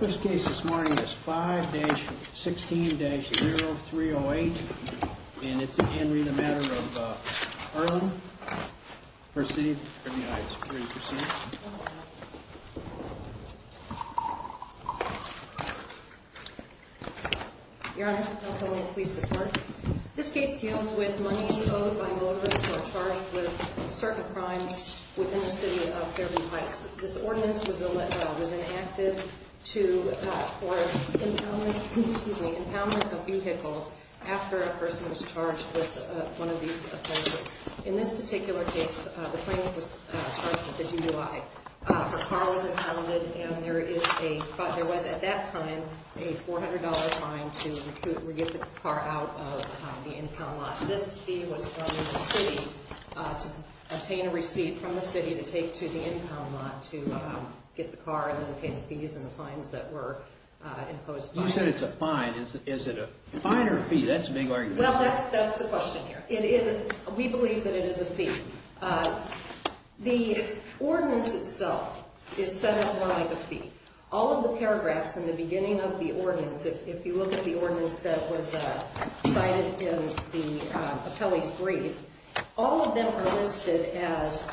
This case this morning is 5-16-0308, and it's again the matter of Earlin, First City, Fairview Heights Security Personnel. Your Honor, may I please report? This case deals with monies owed by motorists who are charged with certain crimes within the city of Fairview Heights. This ordinance was enacted for impoundment of vehicles after a person was charged with one of these offenses. In this particular case, the plaintiff was charged with a DUI. Her car was impounded, and there was at that time a $400 fine to get the car out of the impound lot. This fee was from the city to obtain a receipt from the city to take to the impound lot to get the car and then pay the fees and the fines that were imposed. You said it's a fine. Is it a fine or a fee? That's a big argument. Well, that's the question here. We believe that it is a fee. The ordinance itself is set up more like a fee. All of the paragraphs in the beginning of the ordinance, if you look at the ordinance that was cited in the appellee's brief, all of them are listed as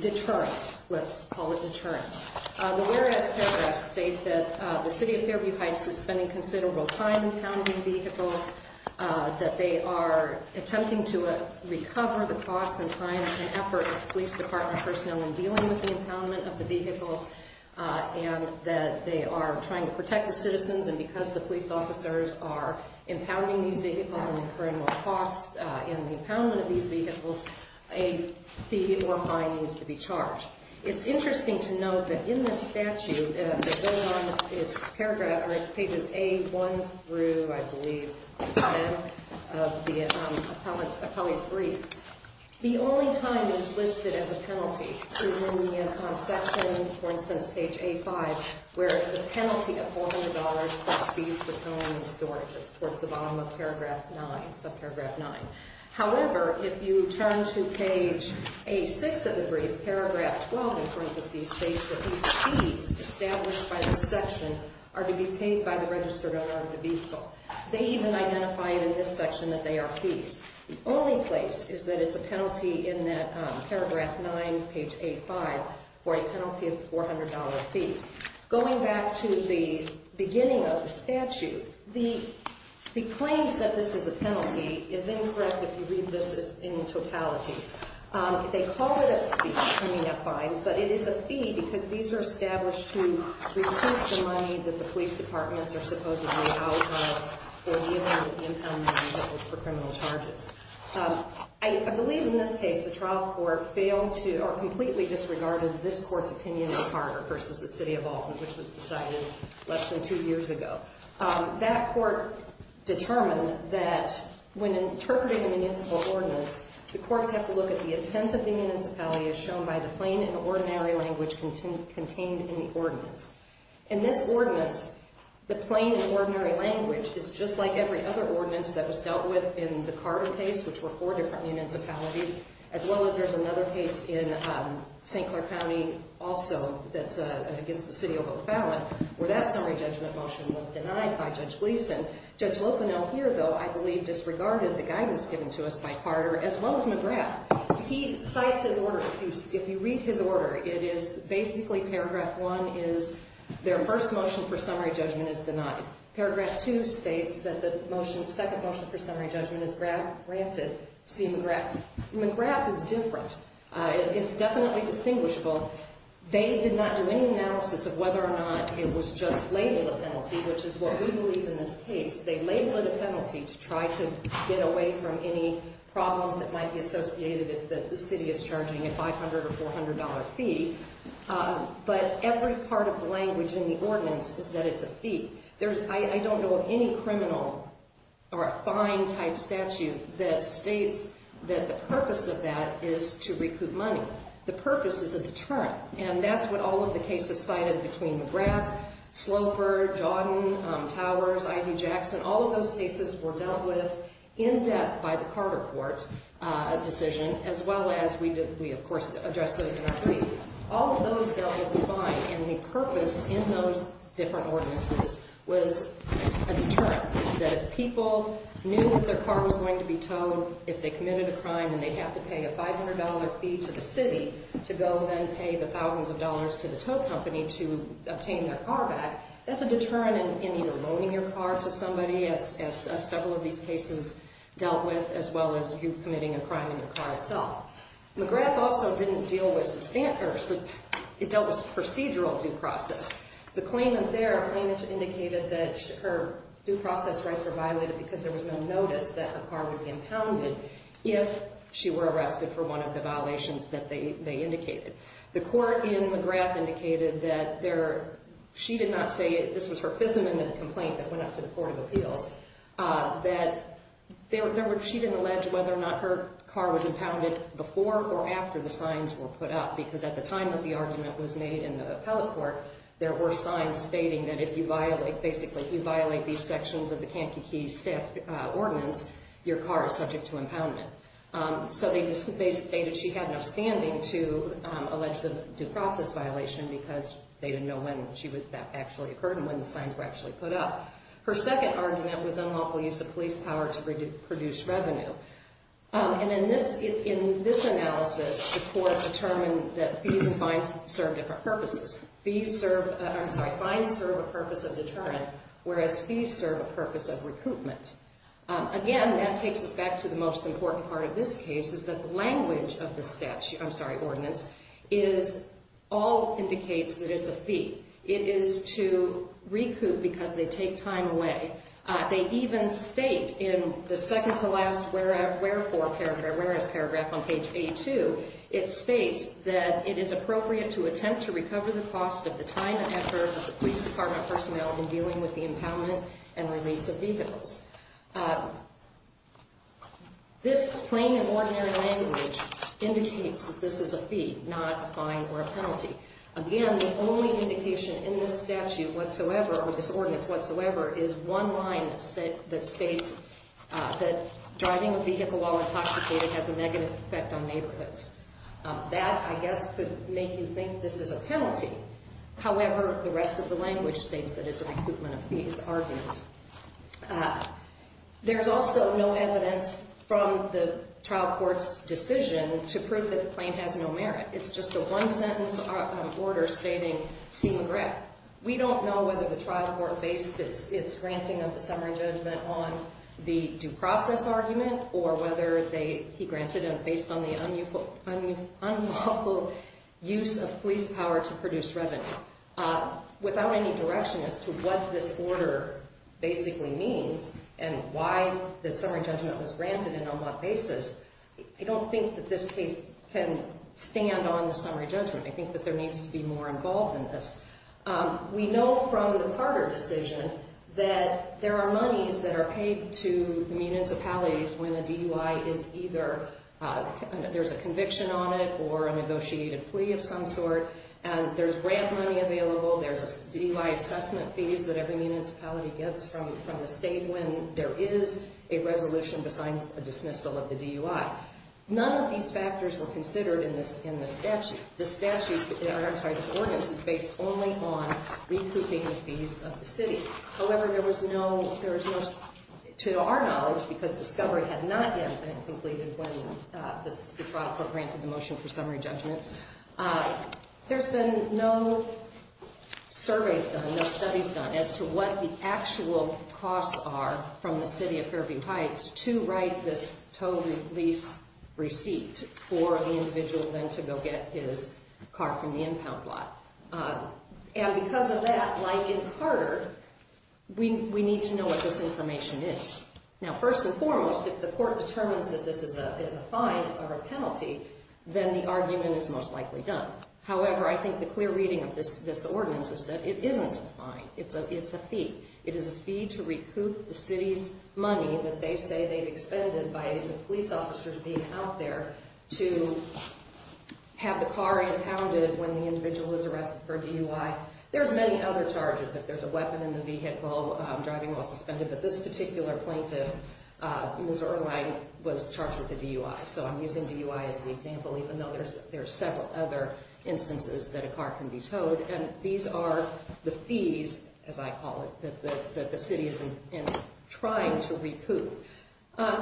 deterrents. Let's call it deterrents. The whereas paragraphs state that the city of Fairview Heights is spending considerable time impounding vehicles, that they are attempting to recover the costs and time and effort of police department personnel in dealing with the impoundment of the vehicles, and that they are trying to protect the citizens. And because the police officers are impounding these vehicles and incurring more costs in the impoundment of these vehicles, a fee or fine needs to be charged. It's interesting to note that in this statute that goes on, it's pages A1 through, I believe, 10 of the appellee's brief. The only time it is listed as a penalty is in the section, for instance, page A5, where the penalty of $400 for fees for towing and storage is towards the bottom of paragraph 9, subparagraph 9. However, if you turn to page A6 of the brief, paragraph 12 in parentheses states that these fees established by this section are to be paid by the registered owner of the vehicle. They even identify in this section that they are fees. The only place is that it's a penalty in that paragraph 9, page A5, for a penalty of $400 fee. Going back to the beginning of the statute, the claims that this is a penalty is incorrect if you read this in totality. They call it a fee. I mean, a fine. But it is a fee because these are established to reduce the money that the police departments are supposedly out of for dealing with the impoundment of vehicles for criminal charges. I believe in this case, the trial court failed to or completely disregarded this court's opinion in Carter versus the city of Alton, which was decided less than two years ago. That court determined that when interpreting a municipal ordinance, the courts have to look at the intent of the municipality as shown by the plain and ordinary language contained in the ordinance. In this ordinance, the plain and ordinary language is just like every other ordinance that was dealt with in the Carter case, which were four different municipalities, as well as there's another case in St. Clair County also that's against the city of O'Fallon where that summary judgment motion was denied by Judge Gleeson. Judge Lopinel here, though, I believe disregarded the guidance given to us by Carter as well as McGrath. He cites his order. If you read his order, it is basically paragraph one is their first motion for summary judgment is denied. Paragraph two states that the second motion for summary judgment is granted. McGrath is different. It's definitely distinguishable. They did not do any analysis of whether or not it was just labeled a penalty, which is what we believe in this case. They labeled it a penalty to try to get away from any problems that might be associated if the city is charging a $500 or $400 fee. But every part of the language in the ordinance is that it's a fee. I don't know of any criminal or a fine type statute that states that the purpose of that is to recoup money. The purpose is a deterrent. And that's what all of the cases cited between McGrath, Sloper, Jodin, Towers, I.D. Jackson. All of those cases were dealt with in depth by the Carter court decision as well as we, of course, addressed those in our brief. All of those dealt with a fine, and the purpose in those different ordinances was a deterrent. That if people knew that their car was going to be towed, if they committed a crime and they have to pay a $500 fee to the city to go and then pay the thousands of dollars to the tow company to obtain their car back, that's a deterrent in either loaning your car to somebody, as several of these cases dealt with, as well as you committing a crime in your car itself. McGrath also didn't deal with substantial – it dealt with procedural due process. The claimant there indicated that her due process rights were violated because there was no notice that her car would be impounded if she were arrested for one of the violations that they indicated. The court in McGrath indicated that she did not say – this was her fifth amendment complaint that went up to the Court of Appeals – that she didn't allege whether or not her car was impounded before or after the signs were put up, because at the time that the argument was made in the appellate court, there were signs stating that if you violate – basically, if you violate these sections of the Camp Kiki staff ordinance, your car is subject to impoundment. So they stated she had enough standing to allege the due process violation because they didn't know when that actually occurred and when the signs were actually put up. Her second argument was unlawful use of police power to produce revenue. And in this analysis, the court determined that fees and fines serve different purposes. Fees serve – I'm sorry, fines serve a purpose of deterrent, whereas fees serve a purpose of recoupment. Again, that takes us back to the most important part of this case, is that the language of the statute – I'm sorry, ordinance – all indicates that it's a fee. It is to recoup because they take time away. They even state in the second-to-last wherefore – where is paragraph on page A2? It states that it is appropriate to attempt to recover the cost of the time and effort of the police department personnel in dealing with the impoundment and release of vehicles. This plain and ordinary language indicates that this is a fee, not a fine or a penalty. Again, the only indication in this statute whatsoever or this ordinance whatsoever is one line that states that driving a vehicle while intoxicated has a negative effect on neighborhoods. That, I guess, could make you think this is a penalty. However, the rest of the language states that it's a recoupment of fees argument. There's also no evidence from the trial court's decision to prove that the claim has no merit. It's just a one-sentence order stating C. McGrath. We don't know whether the trial court based its granting of the summary judgment on the due process argument or whether he granted it based on the unlawful use of police power to produce revenue. Without any direction as to what this order basically means and why the summary judgment was granted on an unlawful basis, I don't think that this case can stand on the summary judgment. I think that there needs to be more involved in this. We know from the Carter decision that there are monies that are paid to municipalities when a DUI is either – there's a conviction on it or a negotiated plea of some sort. And there's grant money available. There's DUI assessment fees that every municipality gets from the state when there is a resolution to sign a dismissal of the DUI. None of these factors were considered in this statute. The statute – I'm sorry, this ordinance is based only on recouping the fees of the city. However, there was no – to our knowledge, because discovery had not yet been completed when the trial court granted the motion for summary judgment, there's been no surveys done, no studies done as to what the actual costs are from the city of Fairview Heights to write this total lease receipt for the individual then to go get his car from the impound lot. And because of that, like in Carter, we need to know what this information is. Now, first and foremost, if the court determines that this is a fine or a penalty, then the argument is most likely done. However, I think the clear reading of this ordinance is that it isn't a fine. It's a fee. It is a fee to recoup the city's money that they say they've expended by the police officers being out there to have the car impounded when the individual is arrested for DUI. There's many other charges. If there's a weapon in the vehicle driving while suspended, but this particular plaintiff, Mr. Irvine, was charged with a DUI. So I'm using DUI as an example, even though there's several other instances that a car can be towed. And these are the fees, as I call it, that the city is trying to recoup.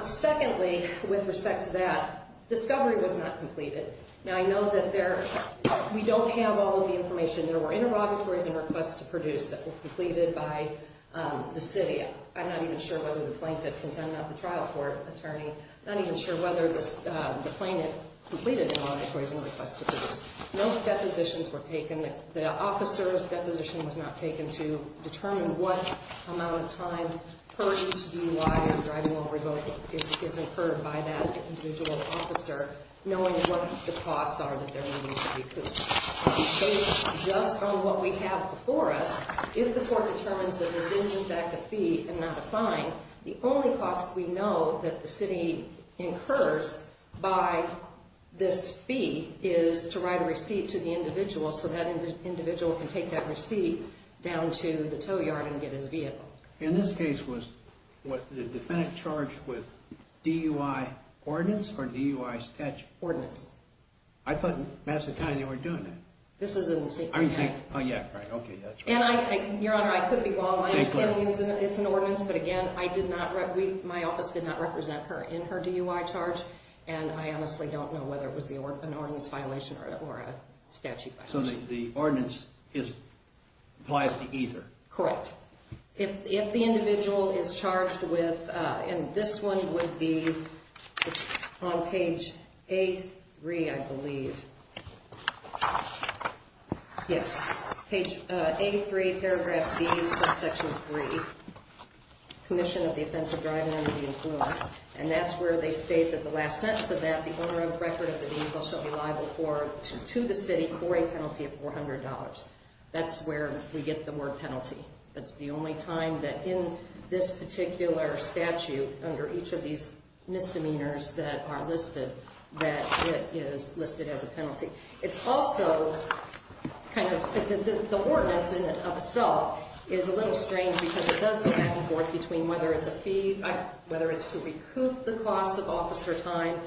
Secondly, with respect to that, discovery was not completed. Now, I know that we don't have all of the information. There were interrogatories and requests to produce that were completed by the city. I'm not even sure whether the plaintiff, since I'm not the trial court attorney, not even sure whether the plaintiff completed the interrogatories and requests to produce. No depositions were taken. The officer's deposition was not taken to determine what amount of time per DUI and driving while revoked is incurred by that individual officer, knowing what the costs are that they're going to need to recoup. Based just on what we have before us, if the court determines that this is, in fact, a fee and not a fine, the only cost we know that the city incurs by this fee is to write a receipt to the individual so that individual can take that receipt down to the tow yard and get his vehicle. In this case, was the defendant charged with DUI ordinance or DUI statute? Ordinance. I thought Madison County, they weren't doing that. This is in secret. Oh, yeah, right. Okay, that's right. Your Honor, I could be wrong. It's an ordinance, but again, my office did not represent her in her DUI charge, and I honestly don't know whether it was an ordinance violation or a statute violation. So the ordinance applies to either? Correct. If the individual is charged with, and this one would be on page A3, I believe. Yes, page A3, paragraph B, subsection 3, commission of the offense of driving under the influence, and that's where they state that the last sentence of that, the owner of the record of the vehicle shall be liable to the city for a penalty of $400. That's where we get the word penalty. That's the only time that in this particular statute, under each of these misdemeanors that are listed, that it is listed as a penalty. It's also kind of, the ordinance in and of itself is a little strange because it does go back and forth between whether it's a fee, whether it's to recoup the cost of officer time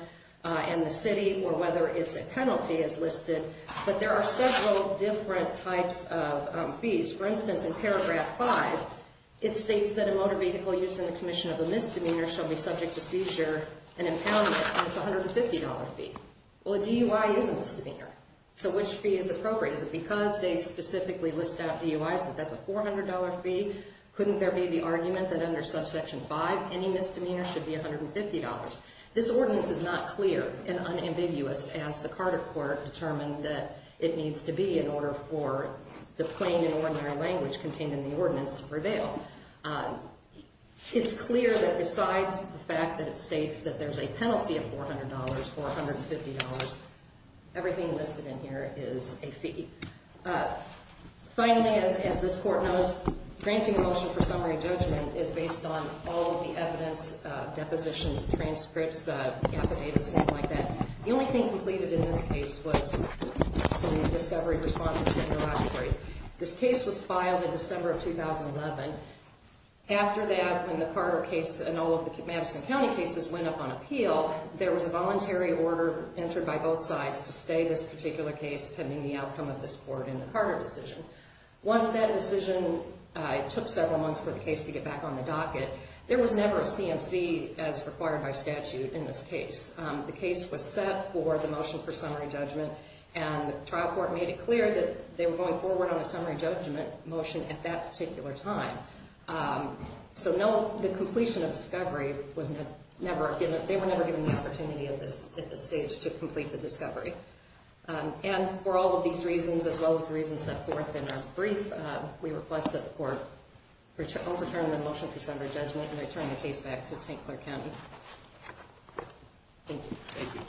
and the city, or whether it's a penalty as listed. But there are several different types of fees. For instance, in paragraph 5, it states that a motor vehicle used in the commission of a misdemeanor shall be subject to seizure and impoundment, and it's a $150 fee. Well, a DUI is a misdemeanor, so which fee is appropriate? Is it because they specifically list out DUIs that that's a $400 fee? Couldn't there be the argument that under subsection 5, any misdemeanor should be $150? This ordinance is not clear and unambiguous as the Carter Court determined that it needs to be in order for the plain and ordinary language contained in the ordinance to prevail. It's clear that besides the fact that it states that there's a penalty of $400, $450, everything listed in here is a fee. Finally, as this Court knows, granting a motion for summary judgment is based on all of the evidence, depositions, transcripts, affidavits, things like that. The only thing completed in this case was some discovery responses to interrogatories. This case was filed in December of 2011. After that, when the Carter case and all of the Madison County cases went up on appeal, there was a voluntary order entered by both sides to stay this particular case pending the outcome of this Court in the Carter decision. Once that decision took several months for the case to get back on the docket, there was never a CMC as required by statute in this case. The case was set for the motion for summary judgment, and the trial court made it clear that they were going forward on a summary judgment motion at that particular time. So, no, the completion of discovery, they were never given the opportunity at this stage to complete the discovery. And for all of these reasons, as well as the reasons set forth in our brief, we request that the Court overturn the motion for summary judgment and return the case back to St. Clair County. Thank you. Thank you.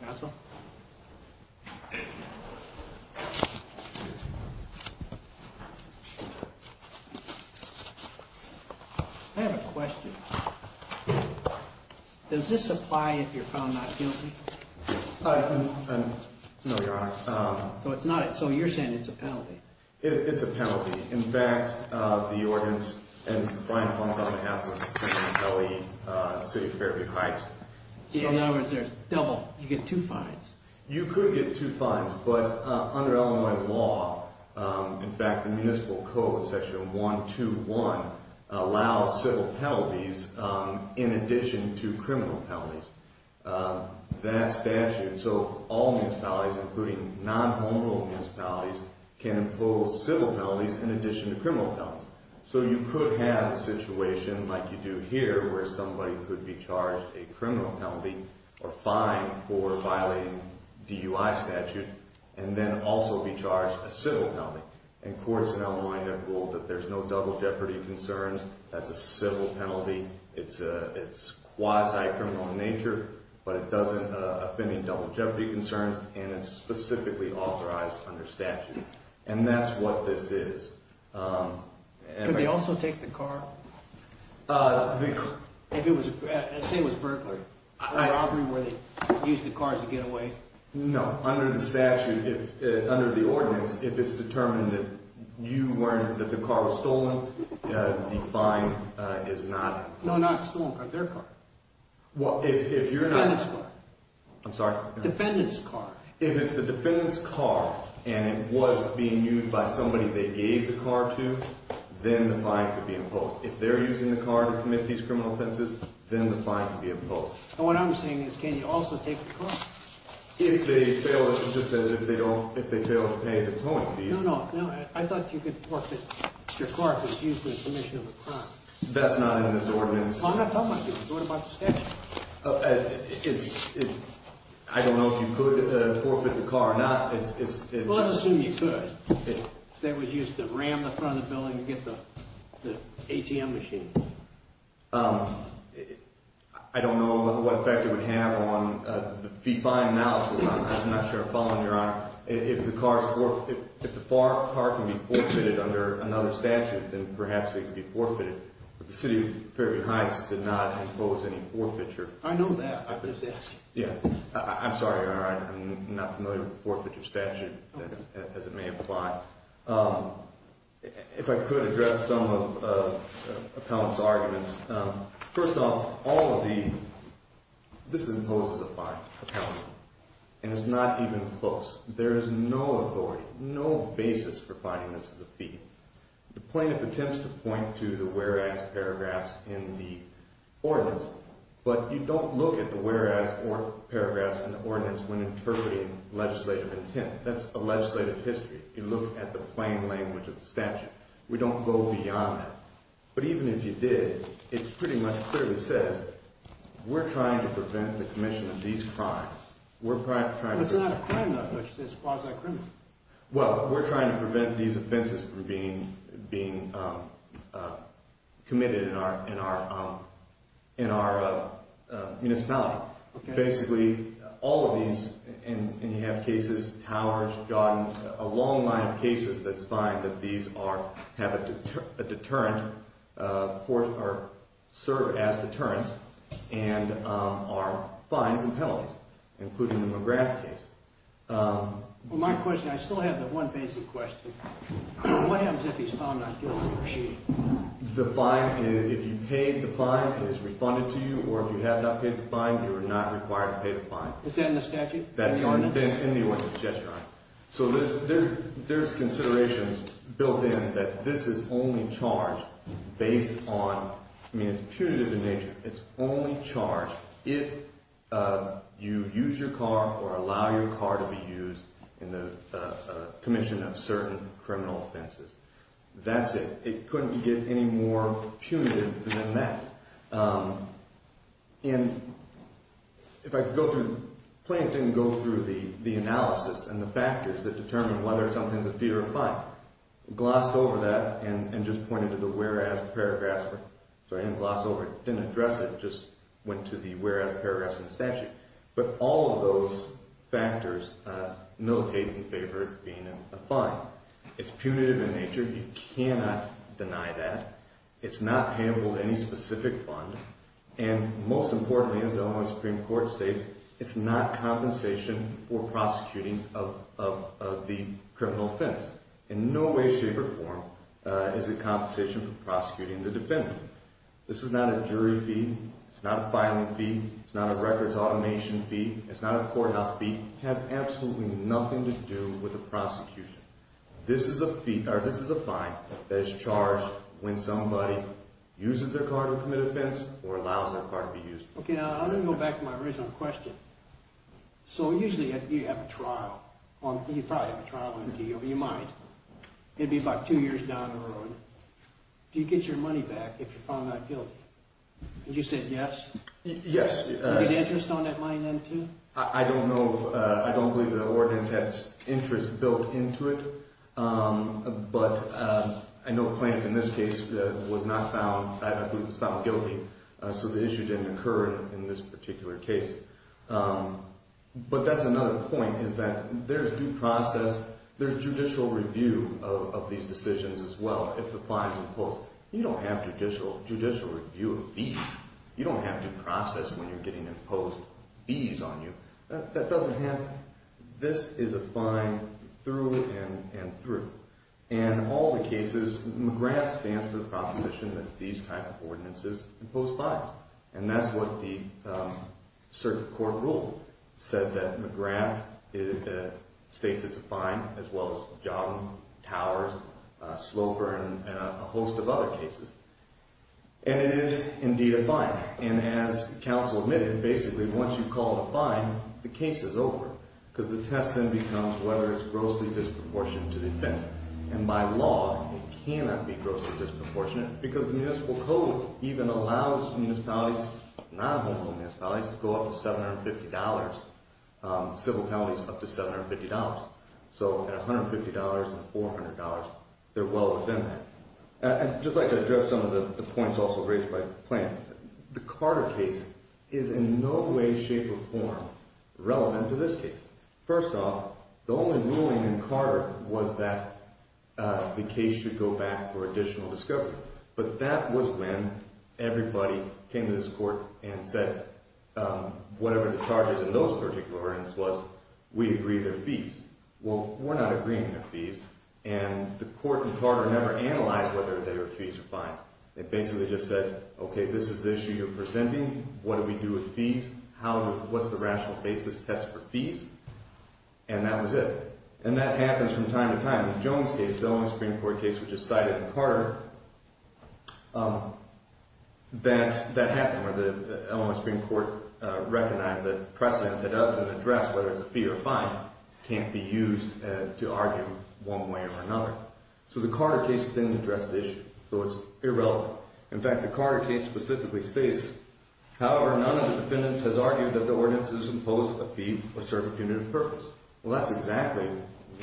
Counsel? I have a question. Does this apply if you're found not guilty? No, Your Honor. It's a penalty. In fact, the ordinance and the fine of $1,500 for felony city of Fairview Heights. Yeah, in other words, there's double. You get two fines. You could get two fines, but under Illinois law, in fact, the Municipal Code, Section 121, allows civil penalties in addition to criminal penalties. That statute, so all municipalities, including non-homehold municipalities, can impose civil penalties in addition to criminal penalties. So you could have a situation like you do here where somebody could be charged a criminal penalty or fine for violating DUI statute and then also be charged a civil penalty. And courts in Illinois have ruled that there's no double jeopardy concerns. That's a civil penalty. It's quasi-criminal in nature, but it doesn't offend any double jeopardy concerns, and it's specifically authorized under statute. And that's what this is. Could they also take the car? I'd say it was burglary. A robbery where they used the car to get away. No, under the statute, under the ordinance, if it's determined that the car was stolen, the fine is not... No, not stolen, but their car. Well, if you're not... Defendant's car. I'm sorry? Defendant's car. If it's the defendant's car and it was being used by somebody they gave the car to, then the fine could be imposed. If they're using the car to commit these criminal offenses, then the fine could be imposed. And what I'm saying is can you also take the car? If they fail, just as if they fail to pay the towing fees. No, no. I thought you could forfeit your car if it's used for the commission of a crime. That's not in this ordinance. I'm not talking about you. I'm talking about the statute. It's... I don't know if you could forfeit the car or not. Well, let's assume you could if it was used to ram the front of the building and get the ATM machine. I don't know what effect it would have on the fee fine analysis. I'm not sure I follow, Your Honor. If the car can be forfeited under another statute, then perhaps it could be forfeited. But the city of Fairview Heights did not impose any forfeiture. I know that. I was just asking. Yeah. I'm sorry, Your Honor. I'm not familiar with the forfeiture statute as it may apply. If I could address some of Appellant's arguments. First off, all of the... this imposes a fine, Appellant, and it's not even close. There is no authority, no basis for finding this as a fee. The plaintiff attempts to point to the whereas paragraphs in the ordinance, but you don't look at the whereas paragraphs in the ordinance when interpreting legislative intent. That's a legislative history. You look at the plain language of the statute. We don't go beyond that. But even if you did, it pretty much clearly says we're trying to prevent the commission of these crimes. We're trying to prevent... It's not a crime, though. It's quasi-criminal. Well, we're trying to prevent these offenses from being committed in our municipality. Basically, all of these, and you have cases, Towers, Jodin, a long line of cases that find that these have a deterrent, serve as deterrents, and are fines and penalties, including the McGrath case. Well, my question, I still have the one basic question. What happens if he's found not guilty of cheating? The fine, if you paid the fine, is refunded to you, or if you have not paid the fine, you are not required to pay the fine. Is that in the statute? That's in the ordinance, yes, Your Honor. So there's considerations built in that this is only charged based on... I mean, it's punitive in nature. It's only charged if you use your car or allow your car to be used in the commission of certain criminal offenses. That's it. It couldn't get any more punitive than that. And if I could go through... Plaintiff didn't go through the analysis and the factors that determine whether something's a fee or a fine. Glossed over that and just pointed to the whereas paragraphs. Sorry, didn't gloss over it, didn't address it, just went to the whereas paragraphs in the statute. But all of those factors, no case in favor of it being a fine. It's punitive in nature. You cannot deny that. It's not payable to any specific fund. And most importantly, as the Ohio Supreme Court states, it's not compensation for prosecuting of the criminal offense. In no way, shape, or form is it compensation for prosecuting the defendant. This is not a jury fee. It's not a filing fee. It's not a records automation fee. It's not a courthouse fee. It has absolutely nothing to do with the prosecution. This is a fee, or this is a fine, that is charged when somebody uses their car to commit offense or allows their car to be used. Okay, I'm going to go back to my original question. So usually you have a trial. You probably have a trial on you, but you might. It'd be about two years down the road. Do you get your money back if you're found not guilty? Would you say yes? Yes. Do you get interest on that money then too? I don't know. I don't believe the ordinance has interest built into it. But I know Clance, in this case, was not found. I believe he was found guilty. So the issue didn't occur in this particular case. But that's another point, is that there's due process. There's judicial review of these decisions as well, if the fine is imposed. You don't have judicial review of these. You don't have due process when you're getting imposed fees on you. That doesn't happen. This is a fine through and through. In all the cases, McGrath stands for the proposition that these type of ordinances impose fines. And that's what the circuit court rule said, that McGrath states it's a fine, as well as Jobin, Towers, Sloper, and a host of other cases. And it is indeed a fine. And as counsel admitted, basically, once you call a fine, the case is over. Because the test then becomes whether it's grossly disproportionate to the offense. And by law, it cannot be grossly disproportionate. Because the municipal code even allows municipalities, non-homeless municipalities, to go up to $750. Civil penalties up to $750. So at $150 and $400, they're well within that. I'd just like to address some of the points also raised by the plaintiff. The Carter case is in no way, shape, or form relevant to this case. First off, the only ruling in Carter was that the case should go back for additional discovery. But that was when everybody came to this court and said, whatever the charges in those particular ordinances was, we agree to their fees. Well, we're not agreeing to their fees. And the court in Carter never analyzed whether they were fees or fines. They basically just said, OK, this is the issue you're presenting. What do we do with fees? What's the rational basis test for fees? And that was it. And that happens from time to time. The Jones case, the Elmwood Supreme Court case, which is cited in Carter, that happened. And the Elmwood Supreme Court recognized that precedent that doesn't address whether it's a fee or a fine can't be used to argue one way or another. So the Carter case didn't address the issue. So it's irrelevant. In fact, the Carter case specifically states, however, none of the defendants has argued that the ordinances impose a fee or serve a punitive purpose. Well, that's exactly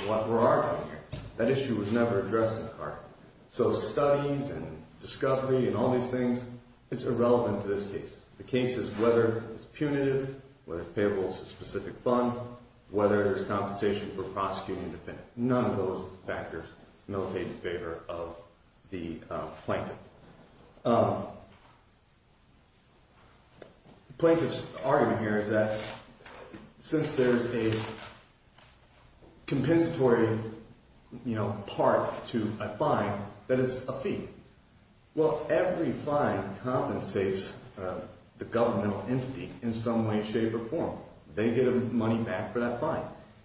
what we're arguing here. That issue was never addressed in Carter. So studies and discovery and all these things, it's irrelevant to this case. The case is whether it's punitive, whether it's payables to a specific fund, whether there's compensation for prosecuting the defendant. None of those factors militate in favor of the plaintiff. The plaintiff's argument here is that since there's a compensatory part to a fine, that it's a fee. Well, every fine compensates the governmental entity in some way, shape, or form. They get money back for that fine.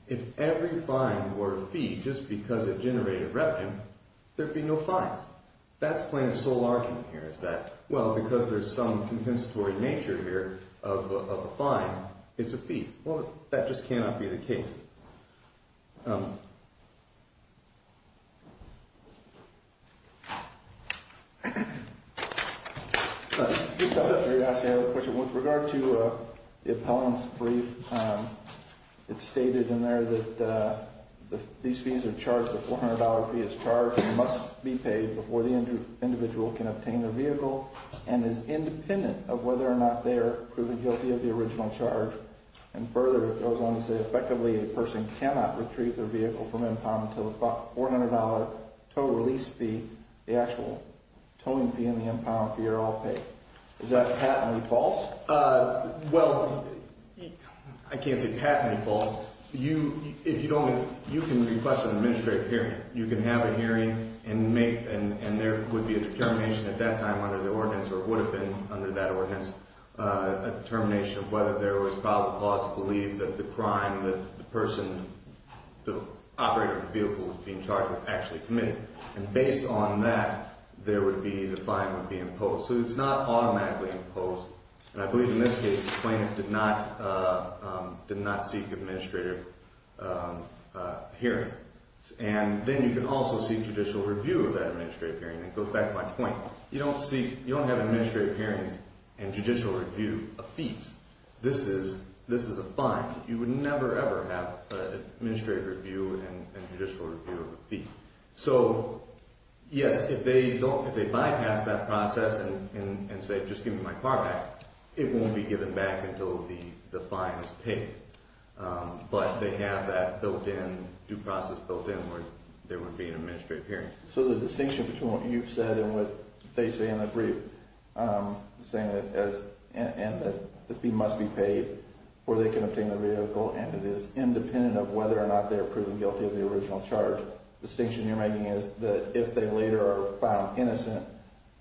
If every fine were a fee just because it generated revenue, there'd be no fines. That's the plaintiff's sole argument here is that, well, because there's some compensatory nature here of a fine, it's a fee. Well, that just cannot be the case. With regard to the appellant's brief, it's stated in there that these fees are charged. The $400 fee is charged and must be paid before the individual can obtain their vehicle and is independent of whether or not they are proven guilty of the original charge. And further, it goes on to say effectively a person cannot retrieve their vehicle from impound until the $400 total release fee, the actual towing fee in the impound fee, are all paid. Is that patently false? Well, I can't say patently false. You can request an administrative hearing. You can have a hearing, and there would be a determination at that time under the ordinance, or would have been under that ordinance, a determination of whether there was probable cause to believe that the crime that the person, the operator of the vehicle was being charged with, actually committed. And based on that, the fine would be imposed. So it's not automatically imposed. And I believe in this case, the plaintiff did not seek administrative hearing. And then you can also seek judicial review of that administrative hearing. It goes back to my point. You don't have administrative hearings and judicial review of fees. This is a fine. You would never, ever have administrative review and judicial review of a fee. So, yes, if they bypass that process and say, just give me my car back, it won't be given back until the fine is paid. But they have that built in, due process built in, where there would be an administrative hearing. So the distinction between what you've said and what they say in the brief, saying that the fee must be paid or they can obtain the vehicle, and it is independent of whether or not they are proven guilty of the original charge, the distinction you're making is that if they later are found innocent,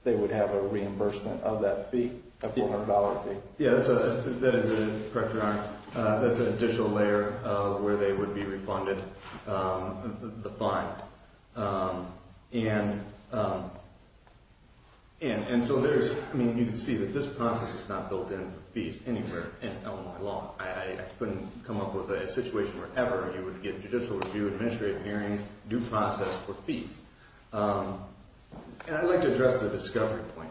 they would have a reimbursement of that fee, a $400 fee. Yeah, that is a, correct me if I'm wrong, that's an additional layer of where they would be refunded the fine. And so there's, I mean, you can see that this process is not built in for fees anywhere in Illinois law. I couldn't come up with a situation wherever you would get judicial review, administrative hearings, due process for fees. And I'd like to address the discovery point.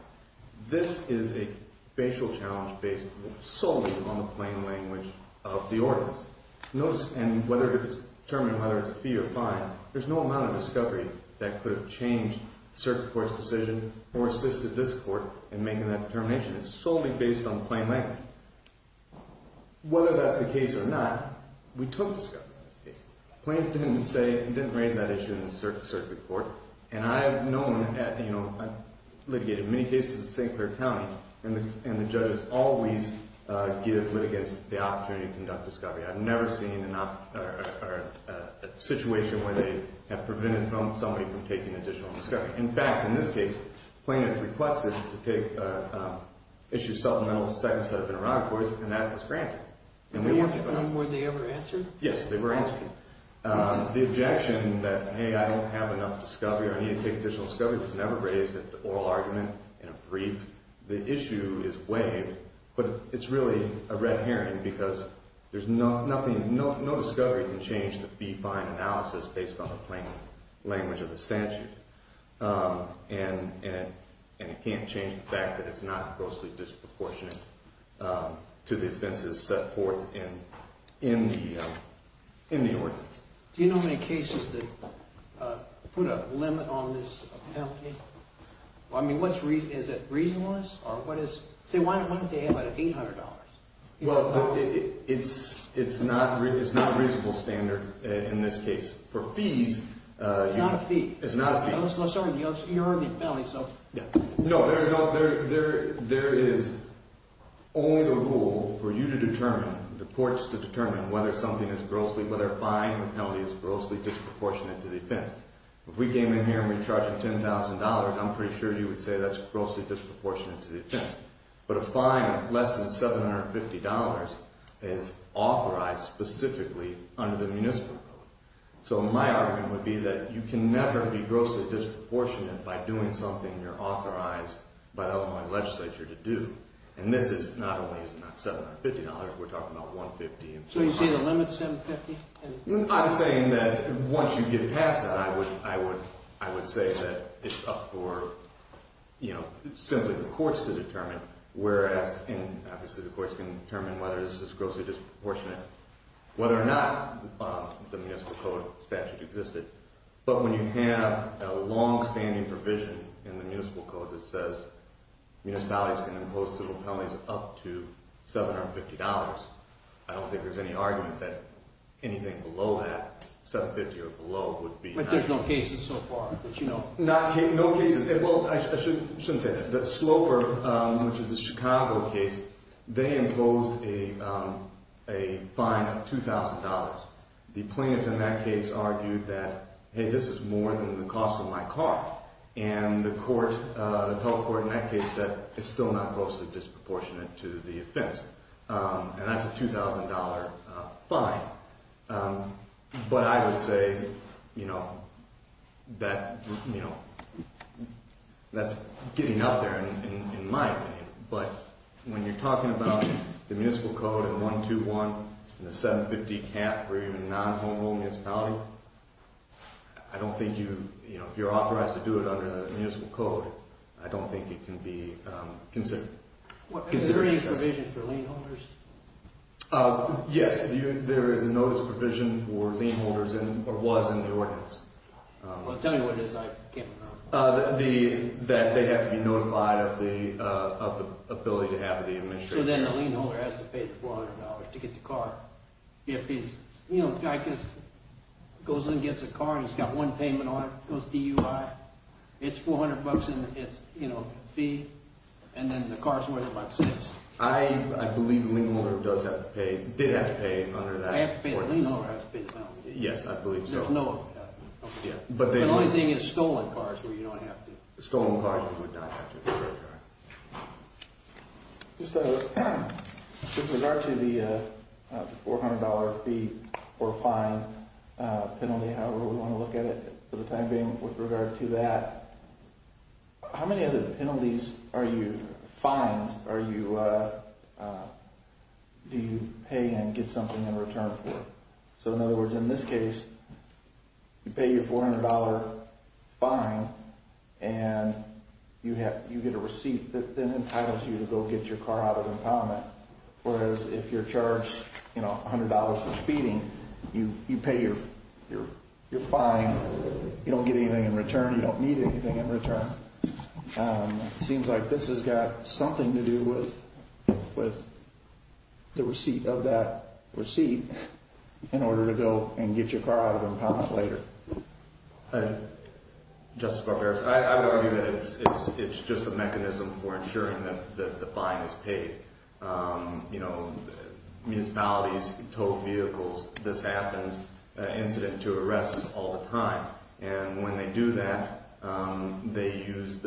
This is a facial challenge based solely on the plain language of the ordinance. Notice, and whether it's determined whether it's a fee or fine, there's no amount of discovery that could have changed the circuit court's decision or assisted this court in making that determination. It's solely based on plain language. Whether that's the case or not, we took discovery in this case. Plaintiff didn't say, he didn't raise that issue in the circuit court. And I've known, you know, I've litigated many cases in St. Clair County, and the judges always give litigants the opportunity to conduct discovery. I've never seen a situation where they have prevented somebody from taking additional discovery. In fact, in this case, plaintiff requested to take issue supplemental second set of interrogatories, and that was granted. Were they ever answered? Yes, they were answered. The objection that, hey, I don't have enough discovery or I need to take additional discovery was never raised at the oral argument in a brief. The issue is waived, but it's really a red herring because there's nothing, no discovery can change the fee-fine analysis based on the plain language of the statute. And it can't change the fact that it's not grossly disproportionate to the offenses set forth in the ordinance. Do you know how many cases that put a limit on this application? I mean, what's reason, is it reasonableness, or what is, say, why don't they have an $800? Well, it's not a reasonable standard in this case. For fees. It's not a fee. It's not a fee. Sorry, you heard the penalty, so. No, there is only the rule for you to determine, the courts to determine whether something is grossly, whether a fine or penalty is grossly disproportionate to the offense. If we came in here and we charged $10,000, I'm pretty sure you would say that's grossly disproportionate to the offense. But a fine of less than $750 is authorized specifically under the municipal code. So my argument would be that you can never be grossly disproportionate by doing something you're authorized by the Illinois legislature to do. And this is not only $750, we're talking about $150. So you say the limit's $750? I'm saying that once you get past that, I would say that it's up for, you know, simply the courts to determine. And obviously the courts can determine whether this is grossly disproportionate, whether or not the municipal code statute existed. But when you have a long-standing provision in the municipal code that says municipalities can impose civil penalties up to $750, I don't think there's any argument that anything below that, $750 or below, would be. But there's no cases so far. No cases. Well, I shouldn't say that. The Sloper, which is a Chicago case, they imposed a fine of $2,000. The plaintiff in that case argued that, hey, this is more than the cost of my car. And the court, the public court in that case said it's still not grossly disproportionate to the offense. And that's a $2,000 fine. But I would say, you know, that's getting out there in my opinion. But when you're talking about the municipal code and the 121 and the $750 cap for even non-homeown municipalities, I don't think you, you know, if you're authorized to do it under the municipal code, I don't think it can be considered excessive. Is there any provision for lien holders? Yes. There is a notice of provision for lien holders or was in the ordinance. Tell me what it is. I can't remember. That they have to be notified of the ability to have the administration. So then the lien holder has to pay the $400 to get the car. If he's, you know, the guy goes in and gets a car and he's got one payment on it, goes DUI, it's $400 bucks in its, you know, fee. And then the car's worth about six. I believe the lien holder does have to pay, did have to pay under that. I have to pay the lien holder. I have to pay the penalty. Yes, I believe so. There's no other cap. Yeah. The only thing is stolen cars where you don't have to. Stolen cars you would not have to. Just with regard to the $400 fee or fine penalty, however we want to look at it for the time being, with regard to that, how many other penalties are you, fines are you, do you pay and get something in return for? So in other words, in this case, you pay your $400 fine and you get a receipt that then entitles you to go get your car out of impoundment. Whereas if you're charged, you know, $100 for speeding, you pay your fine. You don't get anything in return. You don't need anything in return. Seems like this has got something to do with the receipt of that receipt in order to go and get your car out of impoundment later. Justice Barbera, I would argue that it's just a mechanism for ensuring that the fine is paid. You know, municipalities tow vehicles. This happens, an incident to arrest all the time. And when they do that, they use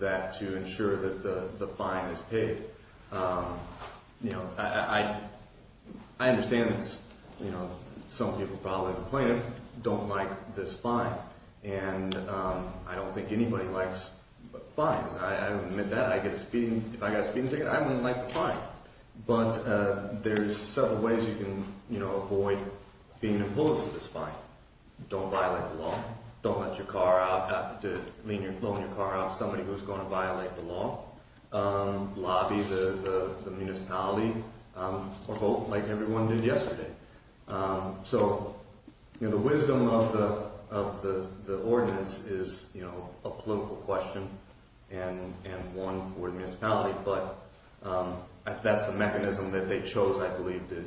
that to ensure that the fine is paid. You know, I understand, you know, some people probably don't like this fine. And I don't think anybody likes fines. I admit that. I get a speeding. If I got a speeding ticket, I wouldn't like the fine. But there's several ways you can, you know, avoid being imposed with this fine. Don't violate the law. Don't let your car out. Somebody who's going to violate the law. Lobby the municipality or vote like everyone did yesterday. So, you know, the wisdom of the ordinance is, you know, a political question and one for the municipality. But that's the mechanism that they chose, I believe, to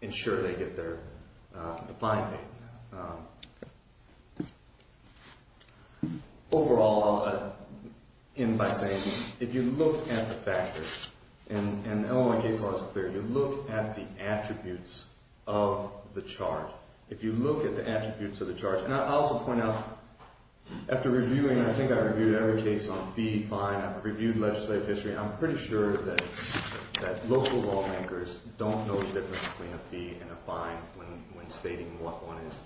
ensure they get their fine paid. Overall, I'll end by saying, if you look at the factors, and the Illinois case law is clear, you look at the attributes of the charge. If you look at the attributes of the charge. And I'll also point out, after reviewing, I think I reviewed every case on fee, fine. I've reviewed legislative history. I'm pretty sure that local lawmakers don't know the difference between a fee and a fine when stating what one is.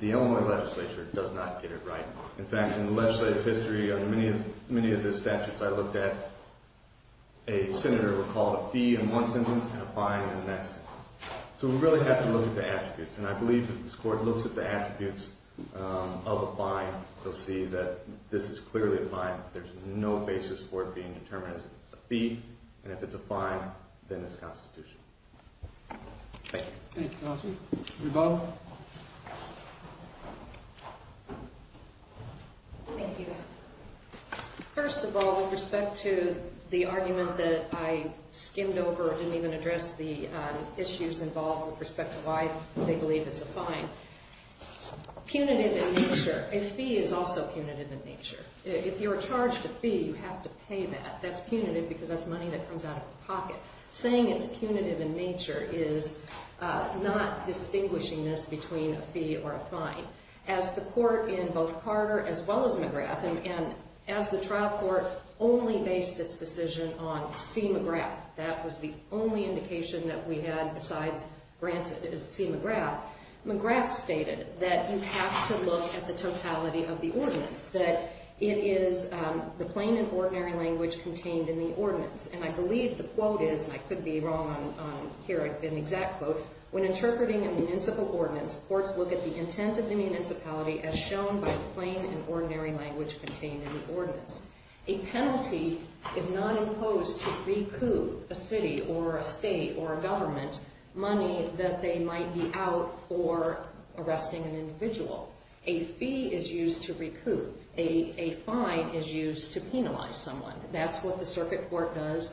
The Illinois legislature does not get it right. In fact, in the legislative history, on many of the statutes I looked at, a senator recalled a fee in one sentence and a fine in the next sentence. So we really have to look at the attributes. And I believe that if this court looks at the attributes of a fine, they'll see that this is clearly a fine. There's no basis for it being determined as a fee. And if it's a fine, then it's constitutional. Thank you. Thank you, counsel. Reba? Thank you. First of all, with respect to the argument that I skimmed over, I didn't even address the issues involved with respect to why they believe it's a fine. Punitive in nature. A fee is also punitive in nature. If you're charged a fee, you have to pay that. That's punitive because that's money that comes out of the pocket. Saying it's punitive in nature is not distinguishing this between a fee or a fine. As the court in both Carter as well as McGrath, and as the trial court only based its decision on C. McGrath, that was the only indication that we had besides granted is C. McGrath, McGrath stated that you have to look at the totality of the ordinance, that it is the plain and ordinary language contained in the ordinance. And I believe the quote is, and I could be wrong on here, an exact quote, when interpreting a municipal ordinance, courts look at the intent of the municipality as shown by the plain and ordinary language contained in the ordinance. A penalty is not imposed to recoup a city or a state or a government money that they might be out for arresting an individual. A fee is used to recoup. A fine is used to penalize someone. That's what the circuit court does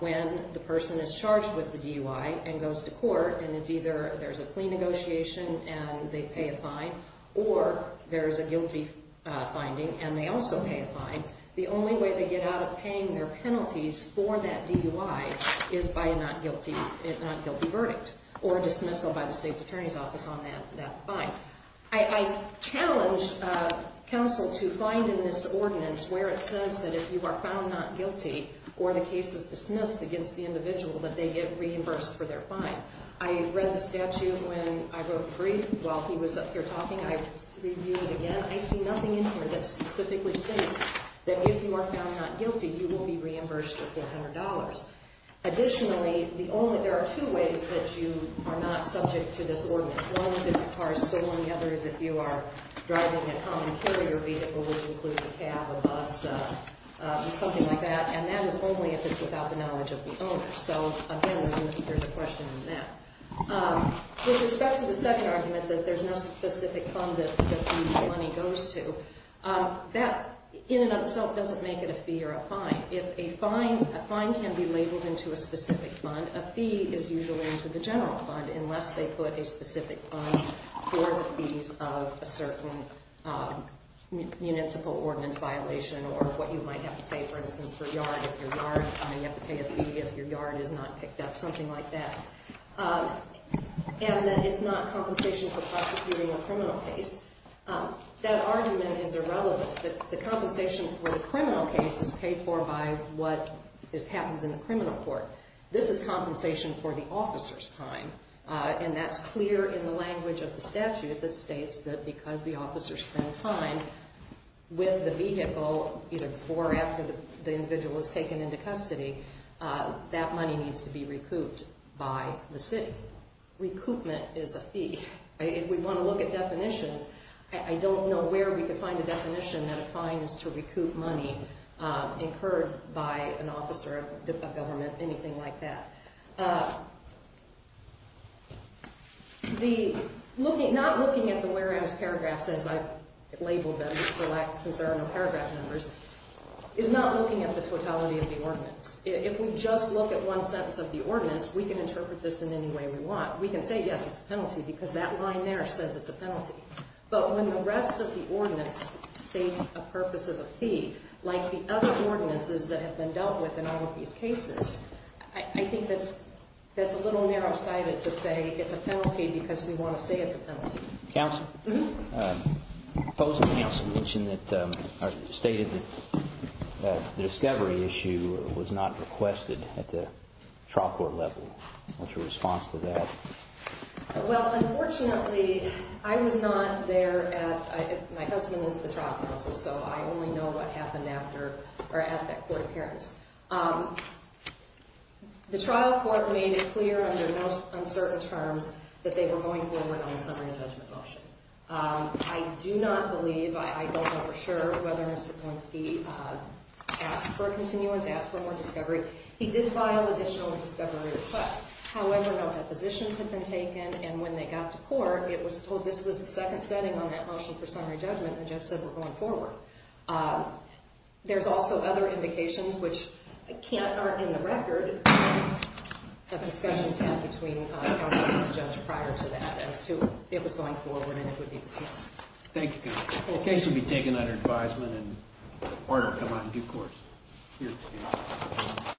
when the person is charged with the DUI and goes to court and is either there's a clean negotiation and they pay a fine or there's a guilty finding and they also pay a fine. The only way they get out of paying their penalties for that DUI is by a not guilty verdict or dismissal by the state's attorney's office on that fine. I challenge counsel to find in this ordinance where it says that if you are found not guilty or the case is dismissed against the individual that they get reimbursed for their fine. I read the statute when I wrote a brief while he was up here talking. I reviewed it again. I see nothing in here that specifically states that if you are found not guilty, you will be reimbursed with $400. Additionally, there are two ways that you are not subject to this ordinance. One is if the car is stolen. The other is if you are driving a common carrier vehicle, which includes a cab, a bus, something like that, and that is only if it's without the knowledge of the owner. So, again, there's a question in that. With respect to the second argument that there's no specific fund that the money goes to, that in and of itself doesn't make it a fee or a fine. If a fine can be labeled into a specific fund, then a fee is usually into the general fund unless they put a specific fund for the fees of a certain municipal ordinance violation or what you might have to pay, for instance, for a yard. If your yard, you have to pay a fee if your yard is not picked up, something like that. And that it's not compensation for prosecuting a criminal case. That argument is irrelevant. The compensation for the criminal case is paid for by what happens in the criminal court. This is compensation for the officer's time. And that's clear in the language of the statute that states that because the officer spent time with the vehicle either before or after the individual is taken into custody, that money needs to be recouped by the city. Recoupment is a fee. If we want to look at definitions, I don't know where we could find a definition that a fine is to recoup money incurred by an officer of government, anything like that. Not looking at the whereas paragraphs, as I've labeled them, since there are no paragraph numbers, is not looking at the totality of the ordinance. If we just look at one sentence of the ordinance, we can interpret this in any way we want. We can say, yes, it's a penalty because that line there says it's a penalty. But when the rest of the ordinance states a purpose of a fee, like the other ordinances that have been dealt with in all of these cases, I think that's a little narrow-sighted to say it's a penalty because we want to say it's a penalty. Counsel? Mm-hmm. Opposing counsel mentioned that, or stated that, the discovery issue was not requested at the trial court level. What's your response to that? Well, unfortunately, I was not there. My husband is the trial counsel, so I only know what happened after or at that court appearance. The trial court made it clear under no uncertain terms that they were going forward on a summary of judgment motion. I do not believe, I don't know for sure, whether Mr. Polinsky asked for a continuance, asked for more discovery. He did file additional discovery requests. However, no depositions had been taken, and when they got to court, it was told this was the second setting on that motion for summary judgment, and the judge said we're going forward. There's also other indications, which aren't in the record, of discussions had between counsel and the judge prior to that as to if it was going forward and it would be dismissed. Thank you. The case will be taken under advisement, and the court will come out in due course.